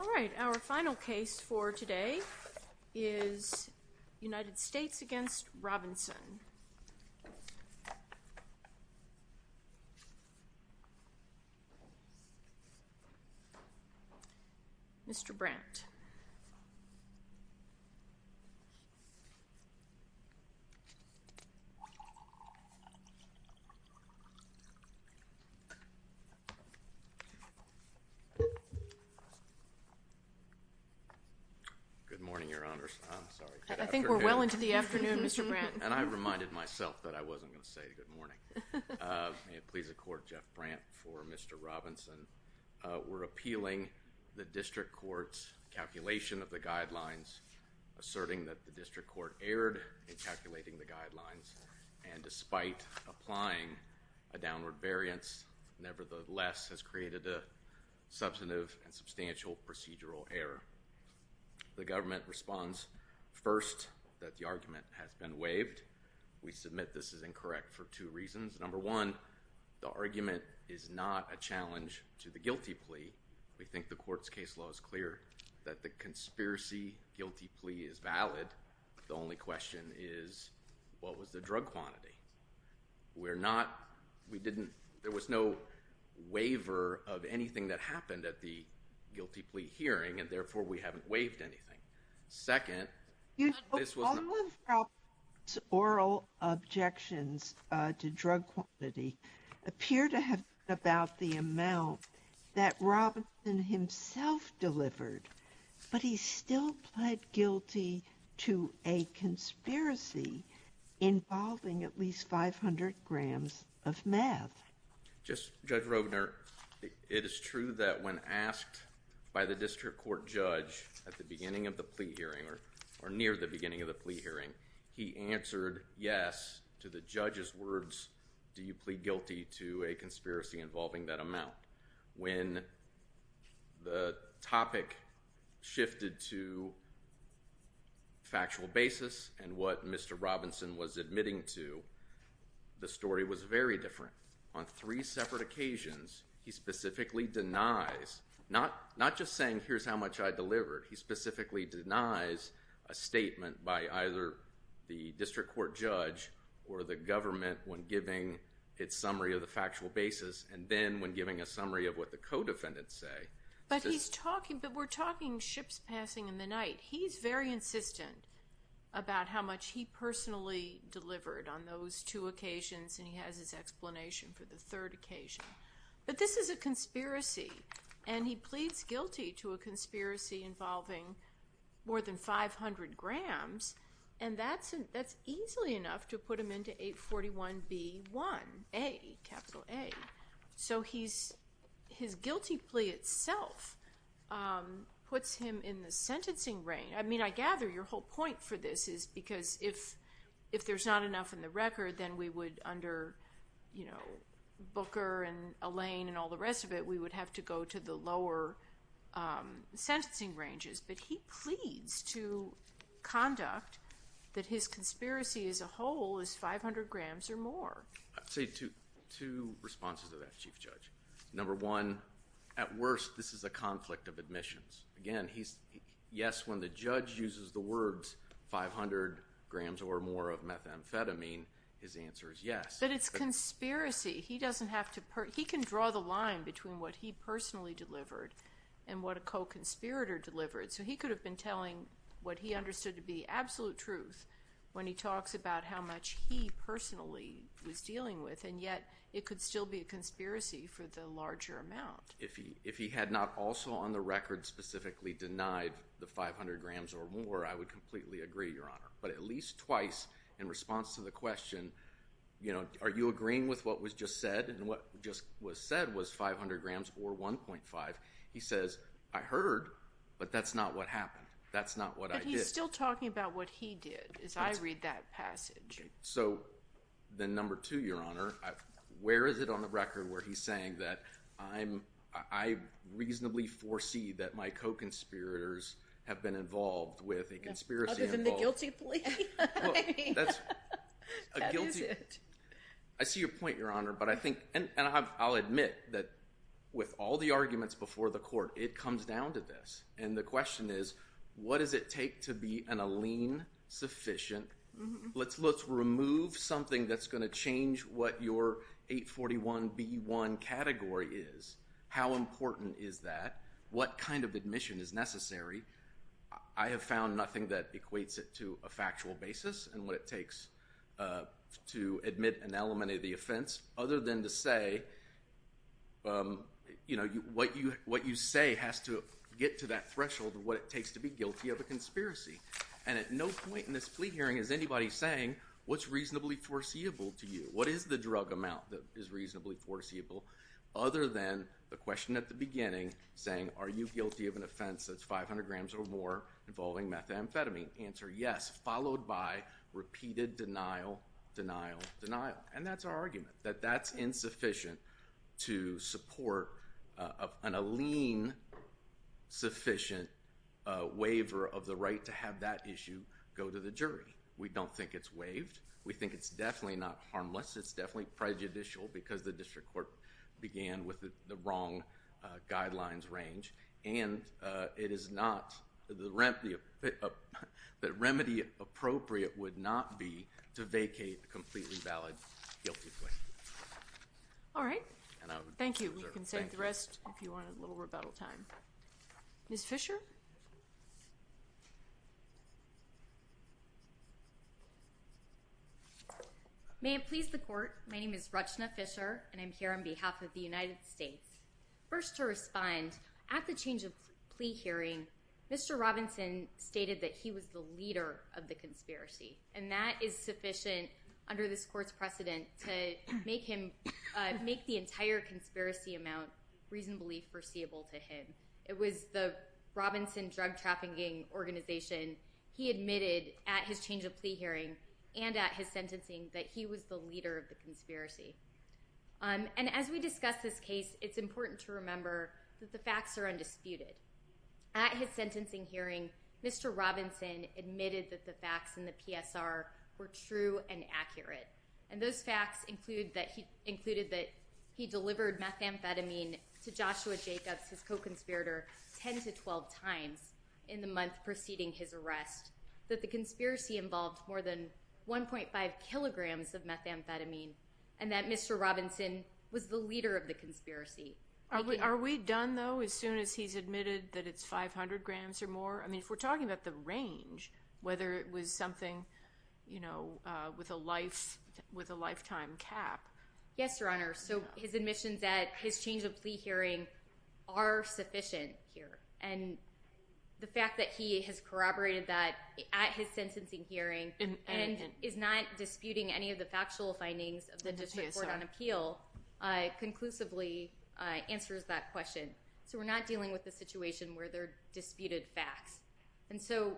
All right, our final case for today is United States v. Robinson. Mr. Brandt Good morning, your honors, I'm sorry, good afternoon. Well into the afternoon, Mr. Brandt. I reminded myself that I wasn't gonna say good morning. May it please the court, Jeff Brandt for Mr. Robinson. We're appealing the district court's calculation of the guidelines, asserting that the district court erred in calculating the guidelines and despite applying a downward variance, nevertheless has created a substantive and substantial procedural error. The government responds first that the argument has been waived. We submit this is incorrect for two reasons. Number one, the argument is not a challenge to the guilty plea. We think the court's case law is clear that the conspiracy guilty plea is valid. The only question is, what was the drug quantity? We're not, we didn't, there was no waiver of anything that happened at the guilty plea hearing and therefore we haven't waived anything. Second, this was not. You know, all of Robinson's oral objections to drug quantity appear to have been about the amount that Robinson himself delivered, but he still pled guilty to a conspiracy involving at least 500 grams of meth. Just, Judge Rovner, it is true that when asked by the district court judge at the beginning of the plea hearing or near the beginning of the plea hearing, he answered yes to the judge's words, do you plead guilty to a conspiracy involving that amount. When the topic shifted to factual basis and what Mr. Robinson was admitting to, the story was very different. On three separate occasions, he specifically denies, not just saying here's how much I delivered, he specifically denies a statement by either the district court judge or the government when giving its summary of the factual basis and then when giving a summary of what the co-defendants say. But he's talking, but we're talking ships passing in the night. He's very insistent about how much he personally delivered on those two occasions and he hasn't given his explanation for the third occasion. But this is a conspiracy and he pleads guilty to a conspiracy involving more than 500 grams and that's easily enough to put him into 841B1A, capital A. So his guilty plea itself puts him in the sentencing reign. I mean, I gather your whole point for this is because if there's not enough in the record, then we would under, you know, Booker and Alain and all the rest of it, we would have to go to the lower sentencing ranges. But he pleads to conduct that his conspiracy as a whole is 500 grams or more. I'd say two responses to that, Chief Judge. Number one, at worst, this is a conflict of admissions. Again, yes, when the judge uses the words 500 grams or more of methamphetamine, his answer is yes. But it's conspiracy. He doesn't have to, he can draw the line between what he personally delivered and what a co-conspirator delivered. So he could have been telling what he understood to be absolute truth when he talks about how much he personally was dealing with and yet it could still be a conspiracy for the larger amount. If he had not also on the record specifically denied the 500 grams or more, I would completely agree, Your Honor. But at least twice in response to the question, you know, are you agreeing with what was just said and what just was said was 500 grams or 1.5, he says, I heard, but that's not what happened. That's not what I did. But he's still talking about what he did as I read that passage. So then number two, Your Honor, where is it on the record where he's saying that I'm, I reasonably foresee that my co-conspirators have been involved with a conspiracy? Other than the guilty plea? That is it. I see your point, Your Honor. But I think, and I'll admit that with all the arguments before the court, it comes down to this. And the question is, what does it take to be an Alene sufficient? Let's remove something that's going to change what your 841B1 category is. How important is that? What kind of admission is necessary? I have found nothing that equates it to a factual basis and what it takes to admit and eliminate the offense other than to say, you know, what you say has to get to that threshold of what it takes to be guilty of a conspiracy. And at no point in this plea hearing is anybody saying, what's reasonably foreseeable to you? What is the drug amount that is reasonably foreseeable? Other than the question at the beginning saying, are you guilty of an offense that's 500 grams or more involving methamphetamine? Answer, yes, followed by repeated denial, denial, denial. And that's our argument, that that's insufficient to support an Alene sufficient waiver of the crime. And that's why we have that issue go to the jury. We don't think it's waived. We think it's definitely not harmless. It's definitely prejudicial because the district court began with the wrong guidelines range. And it is not, the remedy appropriate would not be to vacate a completely valid guilty plea. All right. Thank you. You can save the rest if you want a little rebuttal time. Ms. Fisher? May it please the court, my name is Rachna Fisher, and I'm here on behalf of the United States. First to respond, at the change of plea hearing, Mr. Robinson stated that he was the leader of the conspiracy. And that is sufficient under this court's precedent to make the entire conspiracy amount reasonably foreseeable to him. It was the Robinson Drug Trafficking Organization, he admitted at his change of plea hearing and at his sentencing that he was the leader of the conspiracy. And as we discuss this case, it's important to remember that the facts are undisputed. At his sentencing hearing, Mr. Robinson admitted that the facts in the PSR were true and accurate. And those facts included that he delivered methamphetamine to Joshua Jacobs, his co-conspirator, 10 to 12 times in the month preceding his arrest, that the conspiracy involved more than 1.5 kilograms of methamphetamine, and that Mr. Robinson was the leader of the conspiracy. Are we done, though, as soon as he's admitted that it's 500 grams or more? I mean, if we're talking about the range, whether it was something, you know, with a lifetime cap. Yes, Your Honor. So his admission that his change of plea hearing are sufficient here. And the fact that he has corroborated that at his sentencing hearing and is not disputing any of the factual findings of the district court on appeal conclusively answers that question. So we're not dealing with a situation where there are disputed facts. And so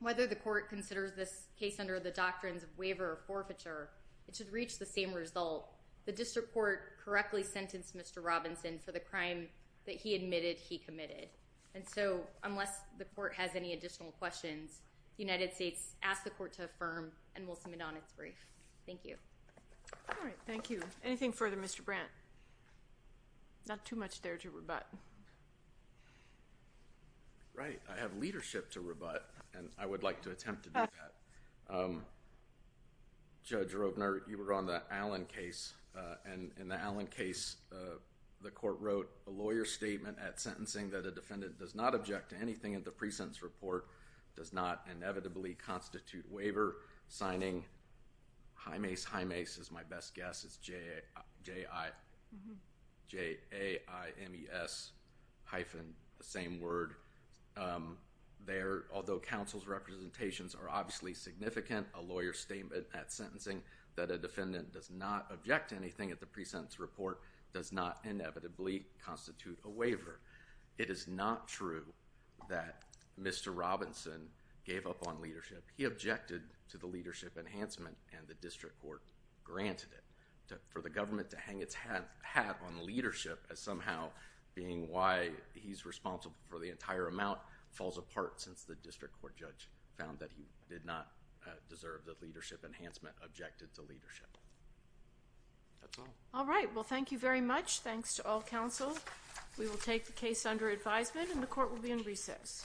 whether the court considers this case under the doctrines of waiver or forfeiture, it should reach the same result. The district court correctly sentenced Mr. Robinson for the crime that he admitted he committed. And so unless the court has any additional questions, the United States asks the court to affirm and will submit on its brief. Thank you. All right. Thank you. Anything further, Mr. Brandt? Not too much there to rebut. Right. I have leadership to rebut, and I would like to attempt to do that. Judge Robner, you were on the Allen case, and in the Allen case, the court wrote a lawyer's statement at sentencing that a defendant does not object to anything in the pre-sentence report, does not inevitably constitute waiver, signing, high mace, high mace is my best guess. It's J.I. J-A-I-M-E-S hyphen, the same word. Although counsel's representations are obviously significant, a lawyer's statement at sentencing that a defendant does not object to anything at the pre-sentence report does not inevitably constitute a waiver. It is not true that Mr. Robinson gave up on leadership. He objected to the leadership enhancement, and the district court granted it. For the government to hang its hat on leadership as somehow being why he's responsible for the entire amount falls apart since the district court judge found that he did not deserve the leadership enhancement, objected to leadership. That's all. All right. Well, thank you very much. Thanks to all counsel. We will take the case under advisement, and the court will be in recess.